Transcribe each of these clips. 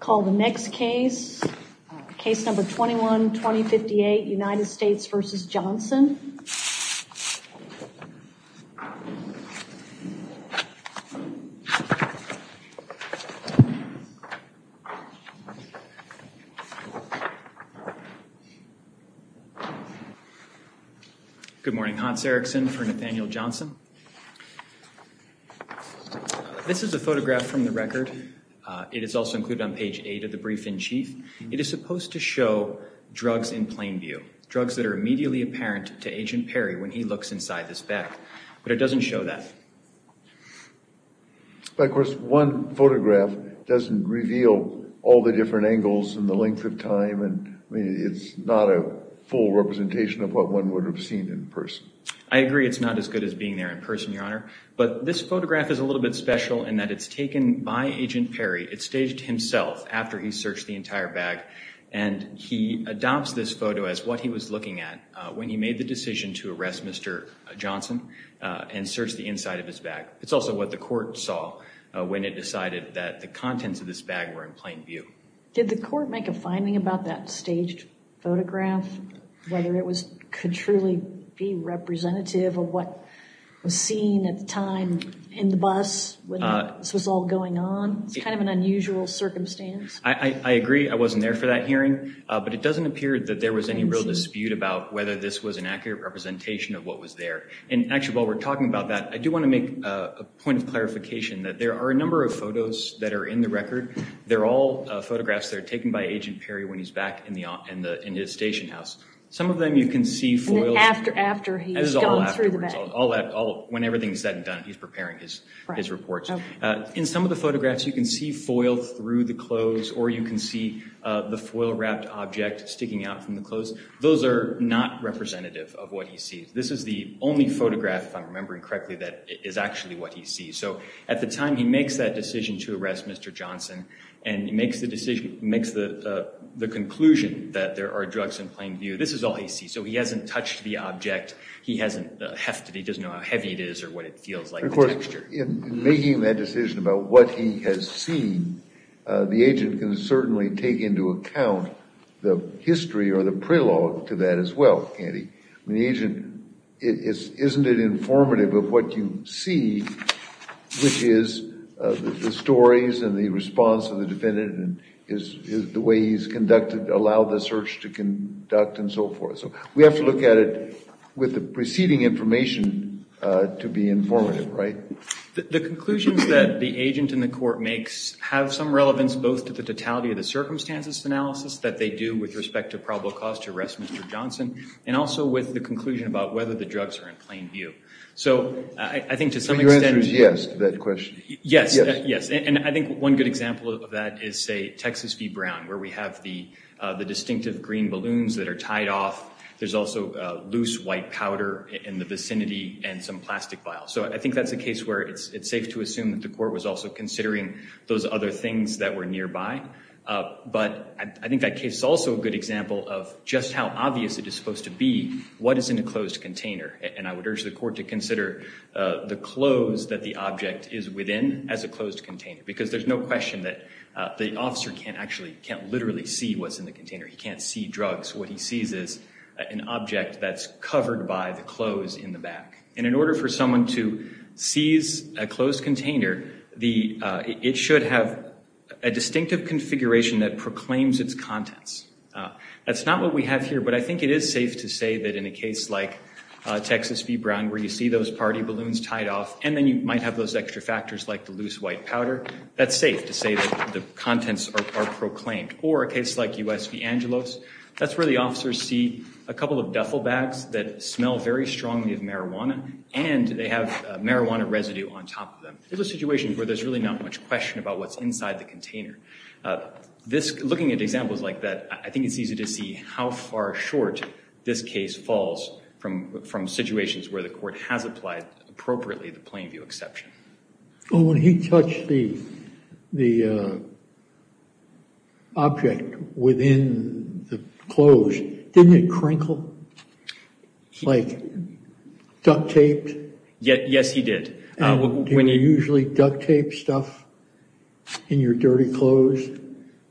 Call the next case. Case number 21-2058 United States v. Johnson. Good morning, Hans Erikson for Nathaniel Johnson. This is a photograph from the record. It is also included on page 8 of the brief-in-chief. It is supposed to show drugs in plain view, drugs that are immediately apparent to Agent Perry when he looks inside this bag, but it doesn't show that. But of course one photograph doesn't reveal all the different angles and the length of time and it's not a full representation of what one would have seen in person. I agree it's not as good as being there in person, your honor, but this photograph is a little bit My Agent Perry, it staged himself after he searched the entire bag and he adopts this photo as what he was looking at when he made the decision to arrest Mr. Johnson and search the inside of his bag. It's also what the court saw when it decided that the contents of this bag were in plain view. Did the court make a finding about that staged photograph? Whether it could truly be an unusual circumstance? I agree I wasn't there for that hearing, but it doesn't appear that there was any real dispute about whether this was an accurate representation of what was there. And actually while we're talking about that, I do want to make a point of clarification that there are a number of photos that are in the record. They're all photographs that are taken by Agent Perry when he's back in his station house. Some of them you can see foiled. After he's gone through the bag. When everything's said and done, he's preparing his reports. In some of the photographs you can see foil through the clothes or you can see the foil wrapped object sticking out from the clothes. Those are not representative of what he sees. This is the only photograph, if I'm remembering correctly, that is actually what he sees. So at the time he makes that decision to arrest Mr. Johnson and he makes the decision, makes the conclusion that there are drugs in plain view. This is all he sees. So he hasn't touched the object. He doesn't know how heavy it is or what it feels like. Of course in making that decision about what he has seen, the agent can certainly take into account the history or the prelogue to that as well, Andy. The agent, isn't it informative of what you see, which is the stories and the response of the defendant and the way he's conducted, allowed the search to conduct and so forth. So we have to look at it with the preceding information to be informative, right? The conclusions that the agent in the court makes have some relevance both to the totality of the circumstances analysis that they do with respect to probable cause to arrest Mr. Johnson and also with the conclusion about whether the drugs are in plain view. So I think to some extent... So your answer is yes to that question? Yes, yes and I think one good example of that is say Texas v. Brown where we have the there's also loose white powder in the vicinity and some plastic vials. So I think that's a case where it's safe to assume that the court was also considering those other things that were nearby. But I think that case is also a good example of just how obvious it is supposed to be what is in a closed container. And I would urge the court to consider the clothes that the object is within as a closed container. Because there's no question that the officer can't actually, can't literally see what's in the container. He can't see that this is an object that's covered by the clothes in the back. And in order for someone to seize a closed container, it should have a distinctive configuration that proclaims its contents. That's not what we have here but I think it is safe to say that in a case like Texas v. Brown where you see those party balloons tied off and then you might have those extra factors like the loose white powder, that's safe to say that the contents are proclaimed. Or a case like US v. Angelos, that's where the officers see a couple of duffel bags that smell very strongly of marijuana and they have marijuana residue on top of them. It's a situation where there's really not much question about what's inside the container. Looking at examples like that, I think it's easy to see how far short this case falls from situations where the court has appropriately the plain view exception. When he touched the object within the clothes, didn't it crinkle? Like duct-taped? Yes, he did. Do you usually duct tape stuff in your dirty clothes?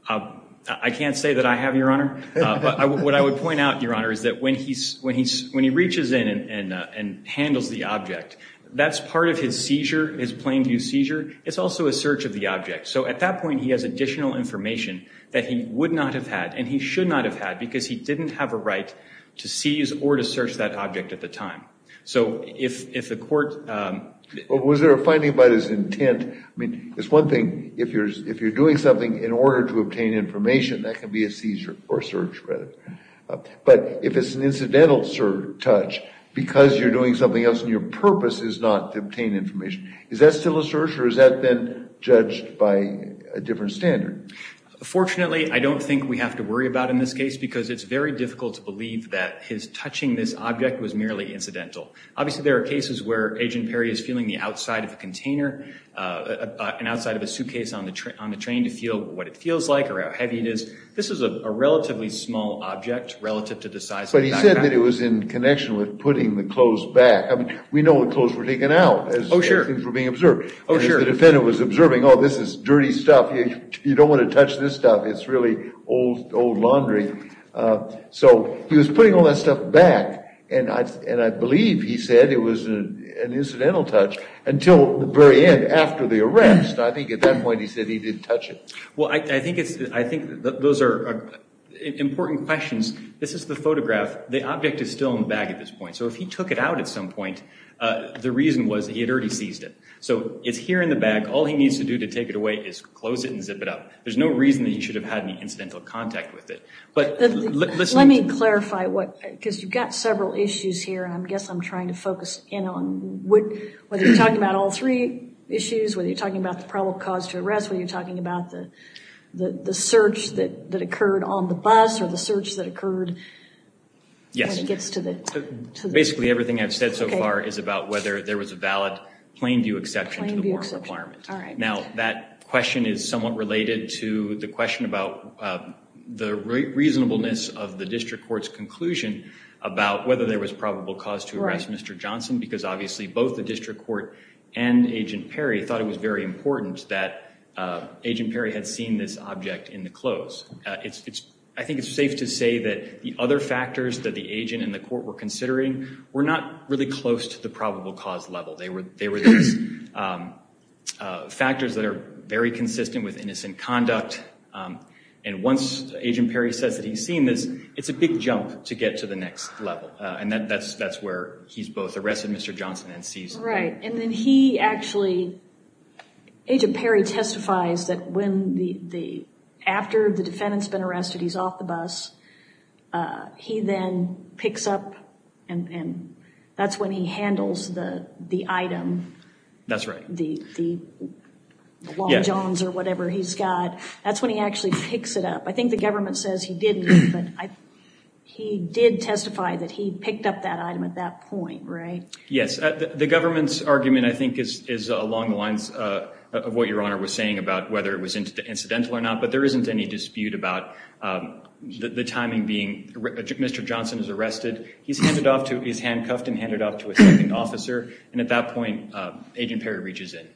I can't say that I have, Your Honor. What I would point out, Your Honor, is that when he reaches in and handles the object, that's part of his seizure, his plain view seizure. It's also a search of the object. So at that point, he has additional information that he would not have had and he should not have had because he didn't have a right to seize or to search that object at the time. So if the court... Was there a finding about his intent? I mean, it's one thing if you're doing something in order to obtain information, that can be a seizure or search rather. But if it's an incidental touch because you're doing something else and your purpose is not to obtain information, is that still a search or has that been judged by a different standard? Fortunately, I don't think we have to worry about in this case because it's very difficult to believe that his touching this object was merely incidental. Obviously, there are cases where Agent Perry is feeling the outside of a container, an outside of a suitcase on the train to feel what it feels like or how heavy it is. This is a relative to the size... But he said that it was in connection with putting the clothes back. I mean, we know the clothes were taken out. Oh, sure. Things were being observed. Oh, sure. The defendant was observing, oh, this is dirty stuff. You don't want to touch this stuff. It's really old, old laundry. So he was putting all that stuff back and I believe he said it was an incidental touch until the very end after the arrest. I think at that point he said he didn't touch it. Well, I think those are important questions. This is the photograph. The object is still in the bag at this point. So if he took it out at some point, the reason was he had already seized it. So it's here in the bag. All he needs to do to take it away is close it and zip it up. There's no reason that he should have had any incidental contact with it. But let me clarify what... because you've got several issues here and I guess I'm trying to focus in on what... whether you're talking about all three issues, whether you're talking about the probable cause to arrest, whether you're talking about the search that occurred on the bus or the search that occurred when he gets to the... Basically everything I've said so far is about whether there was a valid plain view exception to the warrant requirement. Now that question is somewhat related to the question about the reasonableness of the district court's conclusion about whether there was probable cause to arrest Mr. Johnson because obviously both the district court and Agent Perry thought it was very important that Agent Perry had seen this object in the clothes. I think it's safe to say that the other factors that the agent and the court were considering were not really close to the probable cause level. They were these factors that are very consistent with innocent conduct and once Agent Perry says that he's seen this, it's a big jump to get to the next level and that's where he's arrested Mr. Johnson and seized him. Right, and then he actually... Agent Perry testifies that when the... after the defendant's been arrested, he's off the bus, he then picks up and that's when he handles the item. That's right. The long johns or whatever he's got. That's when he actually picks it up. I think the government says he didn't, but he did testify that he picked up that item at that point, right? Yes, the government's argument, I think, is along the lines of what Your Honor was saying about whether it was incidental or not, but there isn't any dispute about the timing being... Mr. Johnson is arrested, he's handed off to... he's handcuffed and handed off to a second officer and at that point Agent Perry reaches in.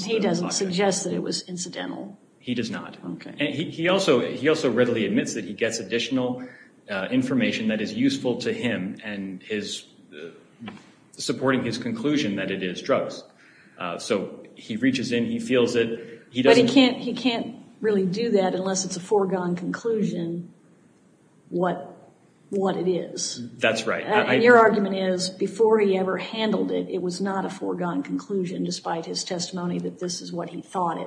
He doesn't suggest that it was incidental. He does not. Okay. He also readily admits that he gets additional information that is supporting his conclusion that it is drugs. So he reaches in, he feels it, he doesn't... But he can't really do that unless it's a foregone conclusion what it is. That's right. Your argument is before he ever handled it, it was not a foregone conclusion despite his testimony that this is what he thought it was.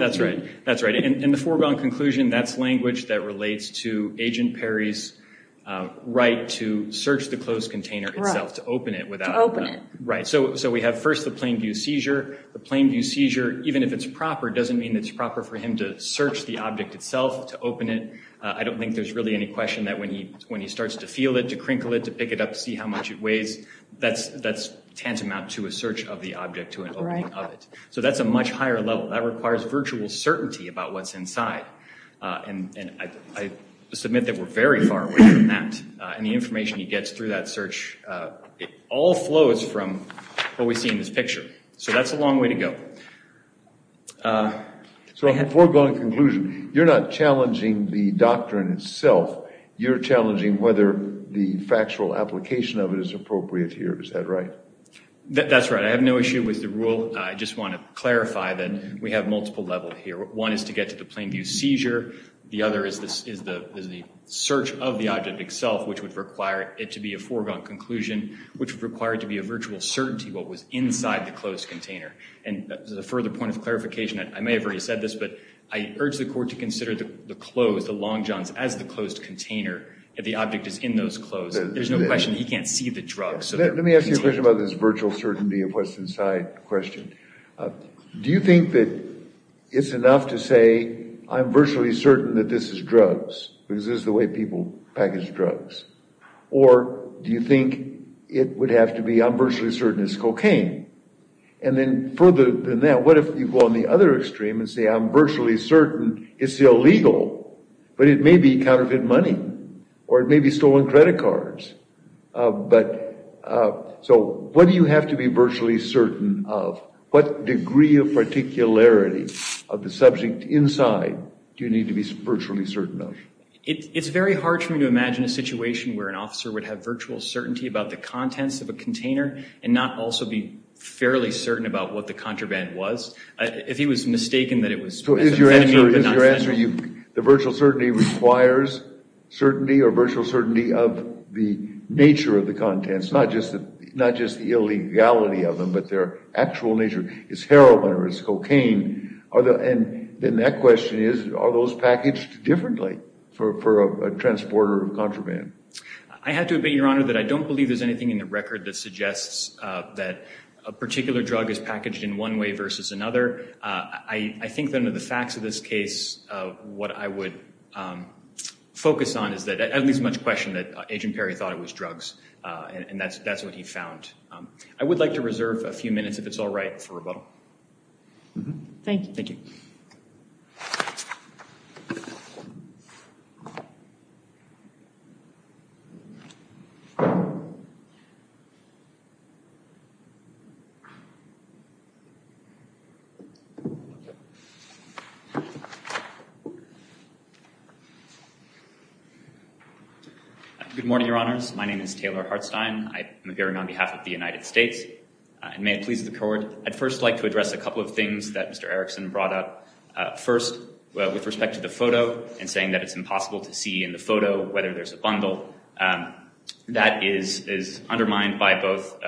That's right, that's right. And the foregone conclusion, that's to Agent Perry's right to search the closed container itself, to open it without... To open it. Right. So we have first the plain view seizure. The plain view seizure, even if it's proper, doesn't mean it's proper for him to search the object itself, to open it. I don't think there's really any question that when he when he starts to feel it, to crinkle it, to pick it up, see how much it weighs, that's tantamount to a search of the object, to an opening of it. So that's a much higher level. That requires virtual certainty about what's inside and I submit that we're very far away from that. And the information he gets through that search, it all flows from what we see in this picture. So that's a long way to go. So a foregone conclusion. You're not challenging the doctrine itself, you're challenging whether the factual application of it is appropriate here. Is that right? That's right. I have no issue with the rule. I just want to clarify that we have multiple levels here. One is to get to the plain view seizure. The other is the search of the object itself, which would require it to be a foregone conclusion, which required to be a virtual certainty what was inside the closed container. And the further point of clarification, I may have already said this, but I urge the court to consider the clothes, the long johns, as the closed container. If the object is in those clothes, there's no question he can't see the drugs. Let me ask you a question about this virtual certainty of what's inside question. Do you think that it's enough to say I'm virtually certain that this is drugs, because this is the way people package drugs? Or do you think it would have to be I'm virtually certain it's cocaine? And then further than that, what if you go on the other extreme and say I'm virtually certain it's illegal, but it may be counterfeit money, or it may be stolen credit cards. But so what do you have to be virtually certain of? What degree of particularity of the certain of? It's very hard for me to imagine a situation where an officer would have virtual certainty about the contents of a container, and not also be fairly certain about what the contraband was. If he was mistaken that it was. So is your answer, the virtual certainty requires certainty, or virtual certainty of the nature of the contents, not just the not just the illegality of them, but their actual nature. It's heroin, or it's cocaine. And then that question is, are those packaged differently for a transporter of contraband? I have to admit, Your Honor, that I don't believe there's anything in the record that suggests that a particular drug is packaged in one way versus another. I think that under the facts of this case, what I would focus on is that, at least much question that Agent Perry thought it was drugs, and that's what he found. I would like to reserve a few minutes, if it's all right, for rebuttal. Thank you. Good morning, Your Honors. My name is Taylor Hartstein. I am appearing on behalf of the United States, and may it please the Court, I'd first like to address a couple of things that Mr. Erickson brought up. First, with respect to the photo, and saying that it's impossible to see in the photo whether there's a bundle. That is undermined by both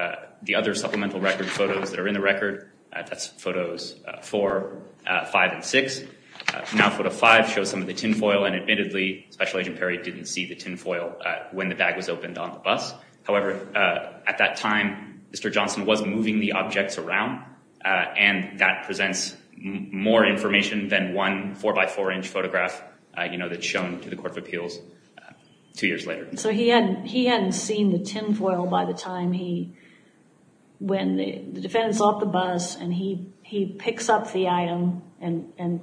the other supplemental record photos that are in the record, that's photos four, five, and six. Now photo five shows some of the tinfoil, and admittedly, Special Agent Perry didn't see the tinfoil when the bag was opened on the bus. However, at that time, Mr. Johnson was moving the objects around, and that presents more information than one four by four inch photograph, you know, that's shown to the Court of Appeals two years later. So he hadn't seen the tinfoil by the time he, when the defendants off the bus, and he picks up the item, and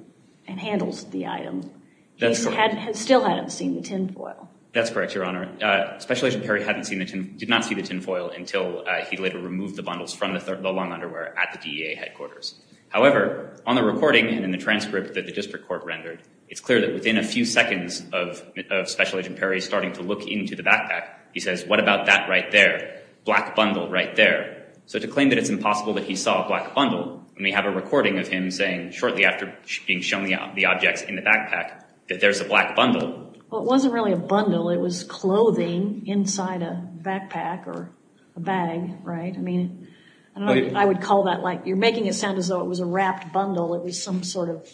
handles the item. He still hadn't seen the tinfoil. That's correct, Your Honor. Special Agent Perry hadn't seen the tin, did not see the tinfoil until he later removed the bundles from the long underwear at the DEA headquarters. However, on the recording and in the transcript that the district court rendered, it's clear that within a few seconds of Special Agent Perry starting to look into the backpack, he says, what about that right there? Black bundle right there. So to claim that it's impossible that he saw a black bundle, and we have a recording of him saying shortly after being shown the objects in the backpack, that there's a black bundle. Well, it wasn't really a bundle, it was clothing inside a backpack or a bag, right? I mean, I would call that like, you're making it sound as though it was a wrapped bundle. It was some sort of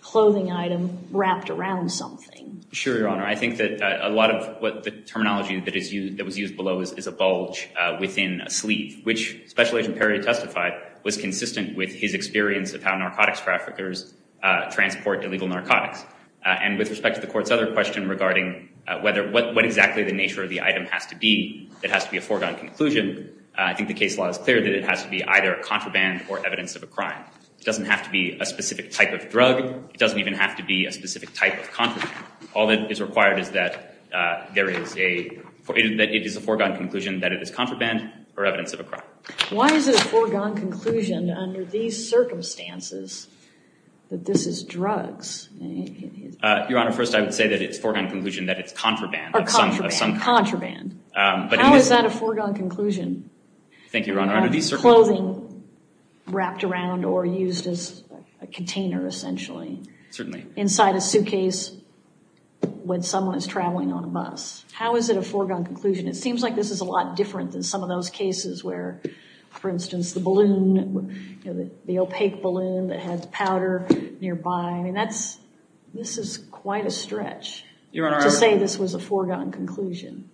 clothing item wrapped around something. Sure, Your Honor. I think that a lot of what the terminology that is used, that was used below, is a bulge within a sleeve, which Special Agent Perry testified was consistent with his experience of how narcotics traffickers transport illegal narcotics. And with respect to the court's other question regarding whether, what exactly the nature of the item has to be, that has to be a foregone conclusion, I think the case law is clear that it has to be either a contraband or evidence of a crime. It doesn't have to be a specific type of drug, it doesn't even have to be a specific type of contraband. All that is required is that there is a, that it is a foregone conclusion that it is contraband or evidence of a crime. Why is it a foregone conclusion under these circumstances that this is drugs? Your Honor, first I would say that it's foregone conclusion that it's contraband. Or contraband. Contraband. How is that a foregone conclusion? Thank you, Your Honor. Clothing wrapped around or used as a container, essentially. Certainly. Inside a suitcase when someone is traveling on a bus. How is it a foregone conclusion? It could be, for instance, the balloon, the opaque balloon that has powder nearby. I mean, that's, this is quite a stretch to say this was a foregone conclusion.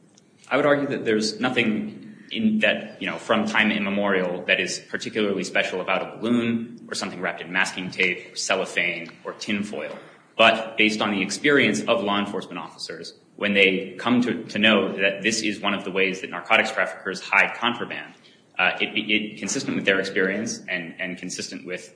I would argue that there's nothing in that, you know, from time immemorial that is particularly special about a balloon or something wrapped in masking tape or cellophane or tinfoil. But based on the experience of law enforcement officers, when they come to know that this is one of the ways that narcotics traffickers hide contraband, consistent with their experience and consistent with,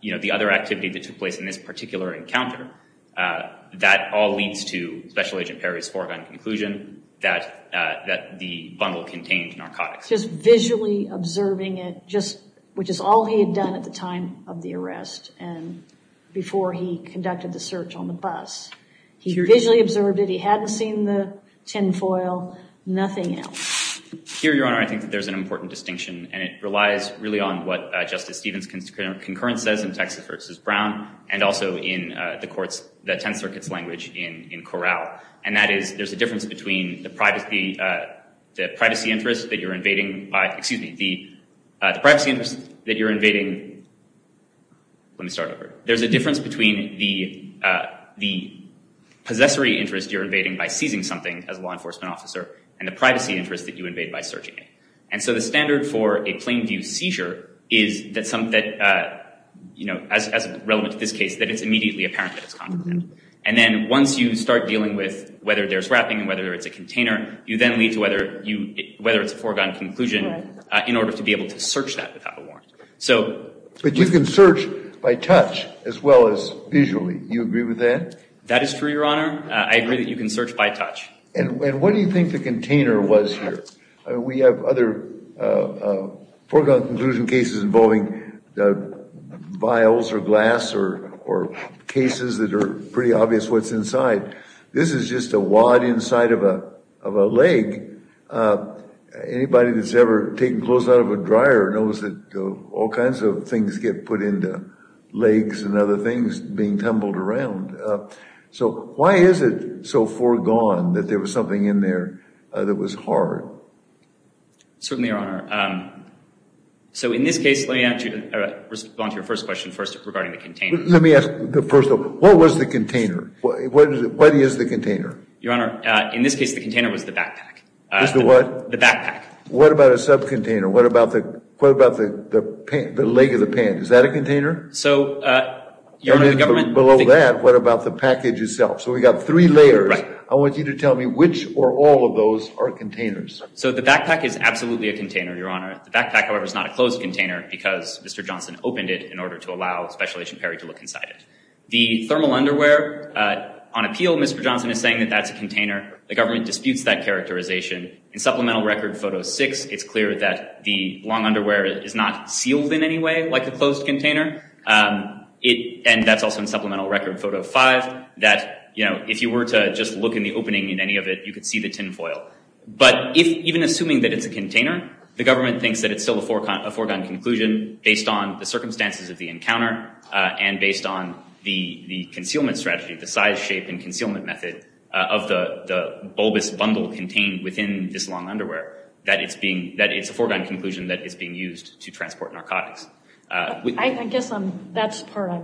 you know, the other activity that took place in this particular encounter, that all leads to Special Agent Perry's foregone conclusion that the bundle contained narcotics. Just visually observing it, just, which is all he had done at the time of the arrest and before he conducted the search on the bus. He visually observed it, he hadn't seen the tinfoil, nothing else. Here, Your Honor, I think that there's an important distinction and it relies really on what Justice Stevens' concurrence says in Texas v. Brown and also in the court's, the Tenth Circuit's language in Corral. And that is, there's a difference between the privacy interest that you're invading, excuse me, the privacy interest that you're invading, let me start over, there's a accessory interest you're invading by seizing something, as a law enforcement officer, and the privacy interest that you invade by searching it. And so the standard for a plain view seizure is that some, that, you know, as relevant to this case, that it's immediately apparent that it's contraband. And then once you start dealing with whether there's wrapping and whether it's a container, you then lead to whether you, whether it's a foregone conclusion in order to be able to search that without a warrant. But you can search by touch as well as by touch. And what do you think the container was here? We have other foregone conclusion cases involving vials or glass or cases that are pretty obvious what's inside. This is just a wad inside of a leg. Anybody that's ever taken clothes out of a dryer knows that all kinds of things get put into legs and other things being tumbled around. So why is it so foregone that there was something in there that was hard? Certainly, Your Honor. So in this case, let me answer, respond to your first question first regarding the container. Let me ask the first, what was the container? What is the container? Your Honor, in this case, the container was the backpack. Was the what? The backpack. What about a subcontainer? What about the, what about the leg of the pant? Is that a container? What about the package itself? So we got three layers. I want you to tell me which or all of those are containers. So the backpack is absolutely a container, Your Honor. The backpack, however, is not a closed container because Mr. Johnson opened it in order to allow Special Agent Perry to look inside it. The thermal underwear, on appeal, Mr. Johnson is saying that that's a container. The government disputes that characterization. In Supplemental Record Photo 6, it's clear that the long underwear is not sealed in any way like a closed container. It, and that's also in Supplemental Record Photo 5, that, you know, if you were to just look in the opening in any of it, you could see the tinfoil. But if, even assuming that it's a container, the government thinks that it's still a foregone conclusion based on the circumstances of the encounter and based on the the concealment strategy, the size, shape, and concealment method of the bulbous bundle contained within this long underwear, that it's being, that it's a foregone conclusion that it's being used to transport narcotics. I guess I'm, that's part of,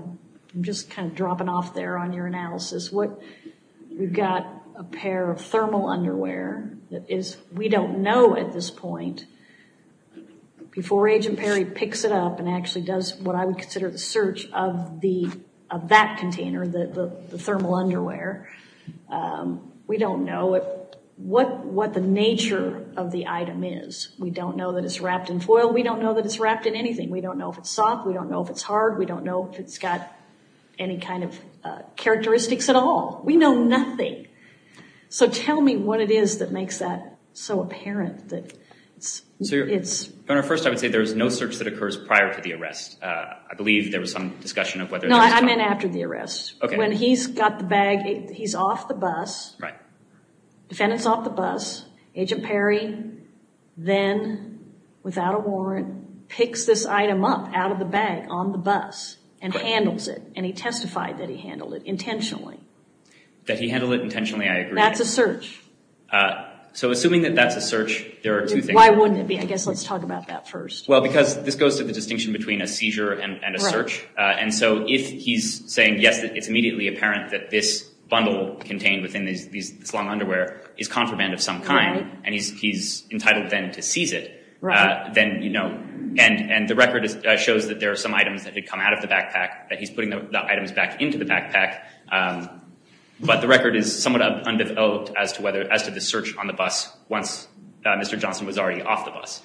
I'm just kind of dropping off there on your analysis. What, we've got a pair of thermal underwear that is, we don't know at this point, before Agent Perry picks it up and actually does what I would consider the search of the, of that container, the thermal underwear, we don't know what, what the nature of the item is. We don't know that it's wrapped in foil. We don't know that it's wrapped in anything. We don't know if it's soft. We don't know if it's hard. We don't know if it's got any kind of characteristics at all. We know nothing. So tell me what it is that makes that so apparent that it's, it's... First, I would say there's no search that occurs prior to the arrest. I believe there was some discussion of whether... No, I meant after the arrest. Okay. When he's got the bag, he's off the bus. Right. Defendant's off the bus. Agent Perry then, without a warrant, picks this item up out of the bag on the bus and handles it. And he testified that he handled it intentionally. That he handled it intentionally, I agree. That's a search. So assuming that that's a search, there are two things. Why wouldn't it be? I guess let's talk about that first. Well, because this goes to the distinction between a seizure and a search. And so if he's saying, yes, it's immediately apparent that this bundle contained within this long underwear is contraband of some kind, and he's entitled then to seize it, then, you know... And the record shows that there are some items that had come out of the backpack, that he's putting the items back into the backpack. But the record is somewhat undeveloped as to whether, as to the search on the bus once Mr. Johnson was already off the bus.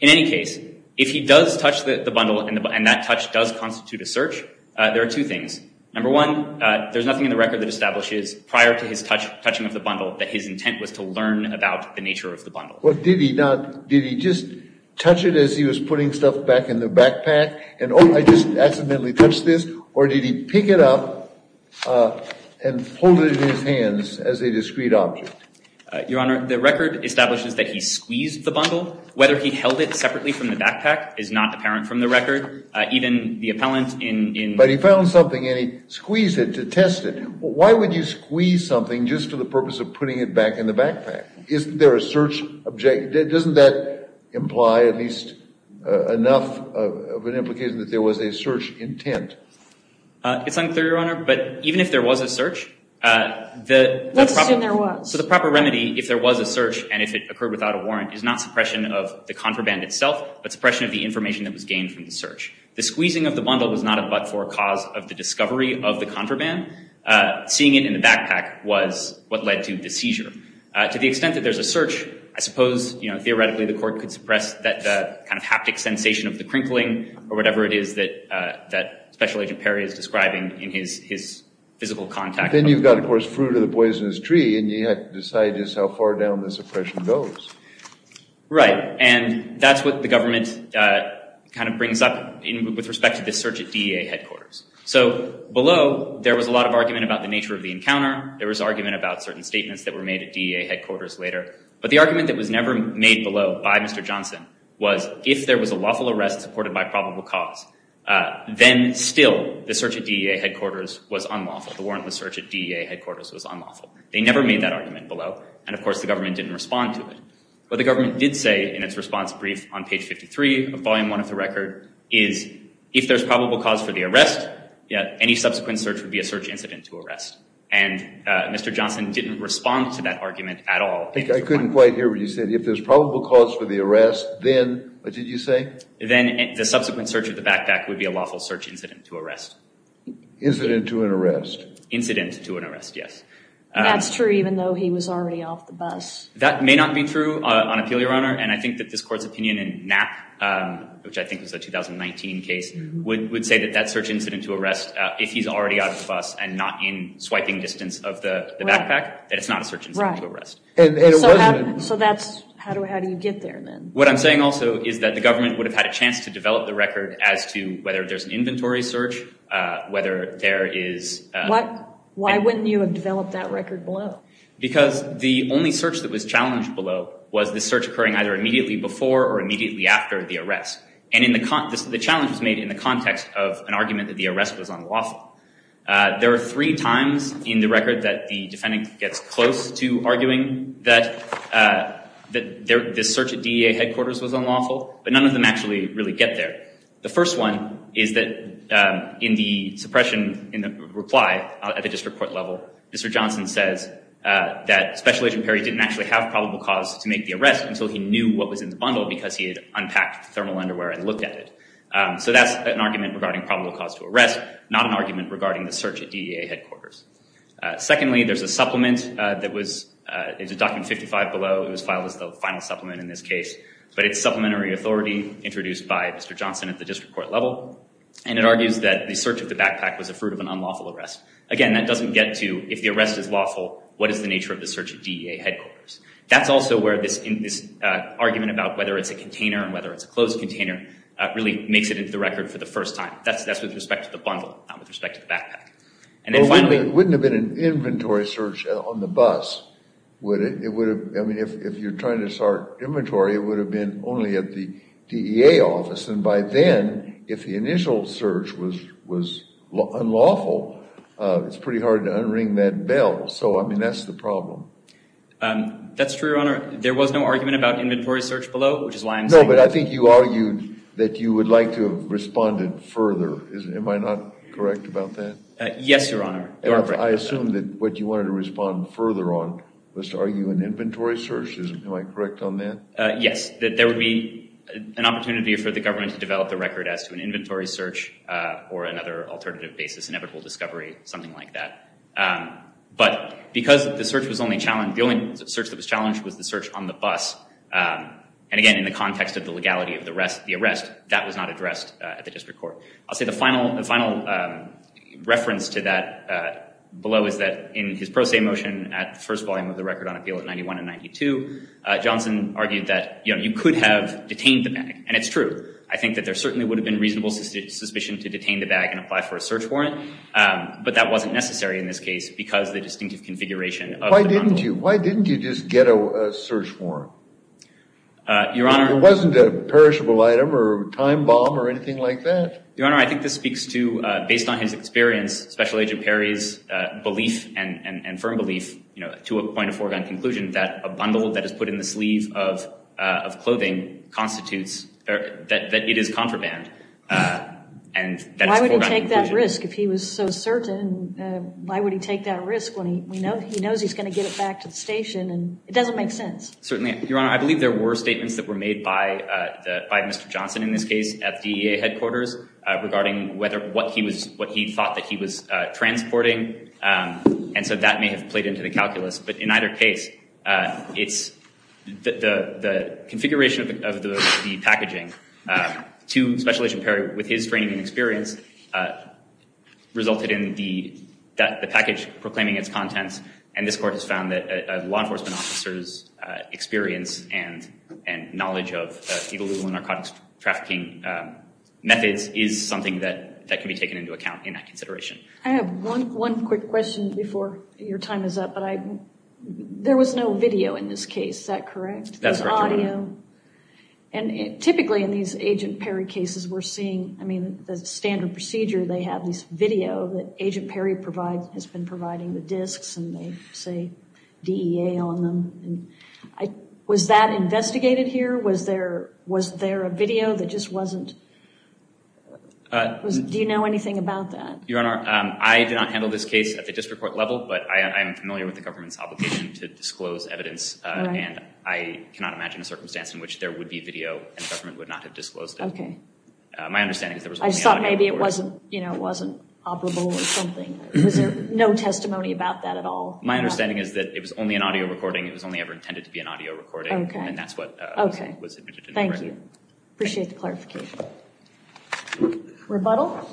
In any case, if he does touch the bundle and that touch does constitute a search, there are two things. Number one, there's nothing in the record that establishes, prior to his touching of the bundle, that his intent was to learn about the nature of the bundle. Well, did he not, did he just touch it as he was putting stuff back in the backpack? And, oh, I just accidentally touched this. Or did he pick it up and hold it in his hands as a discrete object? Your Honor, the record establishes that he squeezed the bundle. Whether he held it separately from the backpack is not apparent from the record. Even the appellant in... But he found something and he squeezed it to test it. Why would you squeeze something just for the purpose of putting it back in the backpack? Isn't there a search object? Doesn't that imply at least enough of an implication that there was a search intent? It's unclear, Your Honor, but even if there was a search, the... Let's assume there was. So the proper remedy, if there was a search and if it occurred without a warrant, is not suppression of the contraband itself, but suppression of the information that was gained from the search. The squeezing of the bundle was not a but-for cause of the discovery of the contraband. Seeing it in the backpack was what led to the seizure. To the extent that there's a search, I suppose, you know, theoretically the court could suppress that kind of haptic sensation of the crinkling or whatever it is that that Special Agent Perry is describing in his physical contact. Then you've got, of course, fruit of the poisonous tree and you have to decide just how far down the suppression goes. Right, and that's what the government kind of brings up with respect to this search at DEA headquarters. So below, there was a lot of argument about the nature of the encounter. There was argument about certain statements that were made at DEA headquarters later, but the argument that was never made below by Mr. Johnson was if there was a lawful arrest supported by probable cause, then still the search at DEA headquarters was unlawful. The warrantless search at DEA headquarters was unlawful. They never made that argument below and, of course, the government didn't respond to it. What the government did say in its response brief on page 53 of Volume 1 of the record is if there's probable cause for the arrest, yeah, any subsequent search would be a search incident to arrest. And Mr. Johnson didn't respond to that argument at all. I couldn't quite hear what you said. If there's probable cause for the arrest, then, what did you say? Then the subsequent search of the backpack would be a lawful search incident to arrest. Incident to an arrest. Incident to an arrest, yes. That's true even though he was already off the bus. That may not be true on appeal, Your Honor, and I think that this court's opinion in Knapp, which I think was a 2019 case, would say that that search incident to arrest, if he's already out of the bus and not in swiping distance of the backpack, that it's not a search incident to arrest. So how do you get there then? What I'm saying also is that the government would have had a chance to develop the record as to whether there's an inventory search, whether there is... Why wouldn't you have developed that record below? Because the only search that was challenged below was the search occurring either immediately before or in the context... The challenge was made in the context of an argument that the arrest was unlawful. There are three times in the record that the defendant gets close to arguing that this search at DEA headquarters was unlawful, but none of them actually really get there. The first one is that in the suppression, in the reply at the district court level, Mr. Johnson says that Special Agent Perry didn't actually have probable cause to make the arrest until he knew what was in the bundle because he had unpacked thermal underwear and looked at it. So that's an argument regarding probable cause to arrest, not an argument regarding the search at DEA headquarters. Secondly, there's a supplement that was... It's a document 55 below. It was filed as the final supplement in this case, but it's supplementary authority introduced by Mr. Johnson at the district court level, and it argues that the search of the backpack was a fruit of an unlawful arrest. Again, that doesn't get to if the arrest is lawful, what is the nature of the search at DEA headquarters. That's also where this argument about whether it's a container and whether it's a closed container really makes it into the record for the first time. That's with respect to the bundle, not with respect to the backpack. And then finally... Well, it wouldn't have been an inventory search on the bus, would it? It would have... I mean, if you're trying to start inventory, it would have been only at the DEA office, and by then, if the initial search was unlawful, it's pretty hard to unring that bell. So, I mean, that's the problem. That's true, Your Honor. There was no argument about inventory search below, which is why I'm saying... No, but I think you argued that you would like to have responded further. Am I not correct about that? Yes, Your Honor. I assume that what you wanted to respond further on was to argue an inventory search. Am I correct on that? Yes, that there would be an opportunity for the government to develop the record as to an inventory search or another alternative basis, inevitable discovery, something like that. But because the only search that was challenged was the search on the bus, and again, in the context of the legality of the arrest, that was not addressed at the District Court. I'll say the final reference to that below is that in his pro se motion at the first volume of the Record on Appeal at 91 and 92, Johnson argued that you could have detained the bag, and it's true. I think that there certainly would have been reasonable suspicion to detain the bag and apply for a search warrant, but that wasn't necessary in this case because of the distinctive configuration. Why didn't you? Why didn't you just get a search warrant? Your Honor... It wasn't a perishable item or a time bomb or anything like that? Your Honor, I think this speaks to, based on his experience, Special Agent Perry's belief and firm belief, you know, to a point of foregone conclusion, that a bundle that is put in the sleeve of clothing constitutes, that it is contraband. Why would he take that risk if he was so certain? Why would he take that risk when he knows he's going to get it back to the station? It doesn't make sense. Certainly, Your Honor, I believe there were statements that were made by Mr. Johnson in this case at the DEA headquarters regarding what he thought that he was transporting, and so that may have played into the calculus. But in either case, it's the configuration of the packaging to Special Agent Perry with his training and experience resulted in the package proclaiming its contents, and this Court has found that a law enforcement officer's experience and knowledge of illegal and narcotics trafficking methods is something that can be taken into account in that consideration. I have one quick question before your time is up, but there was no video in this case, is that correct? That's correct, Your Honor. And typically in these Agent Perry cases, we're seeing, I mean, the standard procedure, they have this video that Agent Perry has been providing the disks, and they say DEA on them. Was that investigated here? Was there a video that just wasn't? Do you know anything about that? Your Honor, I did not handle this case at the district court level, but I am familiar with the government's obligation to disclose evidence, and I cannot imagine a circumstance in which there would be video and the government would not have disclosed it. Okay. My understanding is there was only audio recording. I thought maybe it wasn't, you know, it wasn't operable or something. Was there no testimony about that at all? My understanding is that it was only an audio recording, it was only ever intended to be an audio recording, and that's what was admitted in the record. Thank you. Appreciate the clarification. Rebuttal?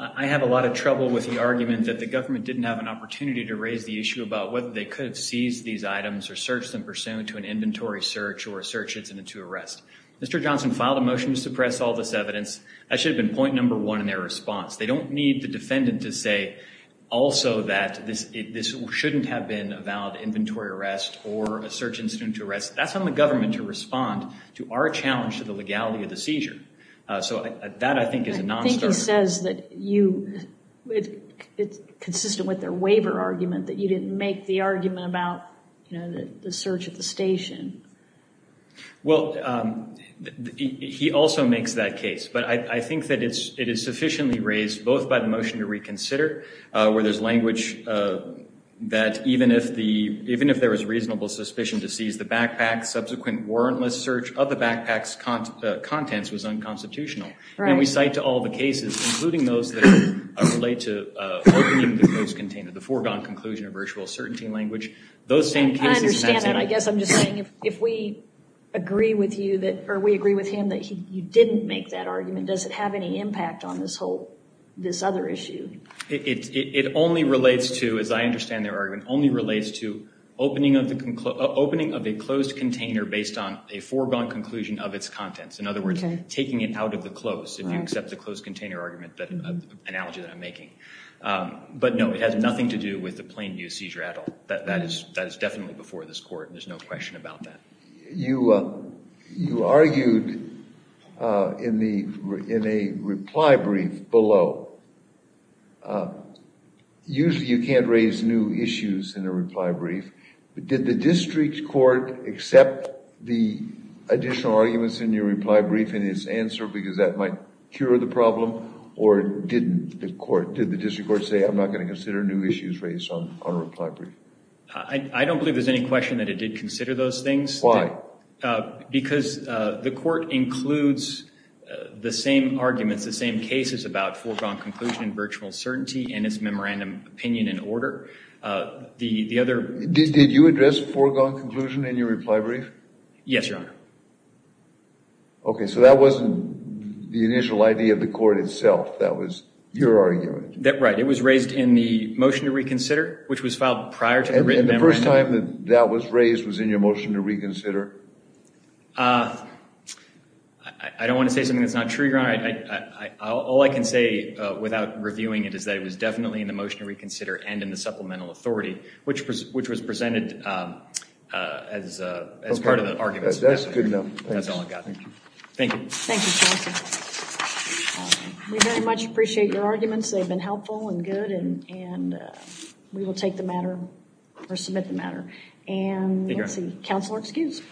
I have a lot of trouble with the argument that the government didn't have an opportunity to raise the issue about whether they could have seized these items or searched them pursuant to an inventory search or a search incident to arrest. Mr. Johnson filed a motion to suppress all this evidence. That should have been point number one in their response. They don't need the defendant to say also that this shouldn't have been a valid inventory arrest or a search incident to arrest. That's on the government to respond to our challenge to the legality of the seizure. So that I think is a non-starter. I think he says that you, it's consistent with their waiver argument that you didn't make the argument about you know the search at the station. Well, he also makes that case, but I think that it is sufficiently raised both by the motion to reconsider where there's language that even if there was reasonable suspicion to seize the backpacks contents was unconstitutional. And we cite to all the cases including those that relate to the foregone conclusion of virtual certainty language. I understand that. I guess I'm just saying if we agree with you that or we agree with him that he didn't make that argument, does it have any impact on this whole, this other issue? It only relates to, as I understand their argument, only conclusion of its contents. In other words, taking it out of the close if you accept the closed container argument that analogy that I'm making. But no, it has nothing to do with the plain view seizure at all. That is definitely before this court. There's no question about that. You argued in a reply brief below. Usually you can't raise new issues in a reply brief, but did the district court accept the additional arguments in your reply brief and its answer because that might cure the problem or didn't the court, did the district court say I'm not going to consider new issues raised on a reply brief? I don't believe there's any question that it did consider those things. Why? Because the court includes the same arguments, the same cases about foregone conclusion in virtual certainty and its memorandum opinion in order. The foregone conclusion in your reply brief? Yes, Your Honor. Okay, so that wasn't the initial idea of the court itself. That was your argument. Right, it was raised in the motion to reconsider, which was filed prior to the written memorandum. And the first time that that was raised was in your motion to reconsider? I don't want to say something that's not true, Your Honor. All I can say without reviewing it is that it was definitely in the motion to reconsider and in the supplemental authority, which was presented as part of the argument. That's good to know. Thank you. We very much appreciate your arguments. They've been helpful and good and we will take the matter or submit the matter. And let's see, counsel are excused.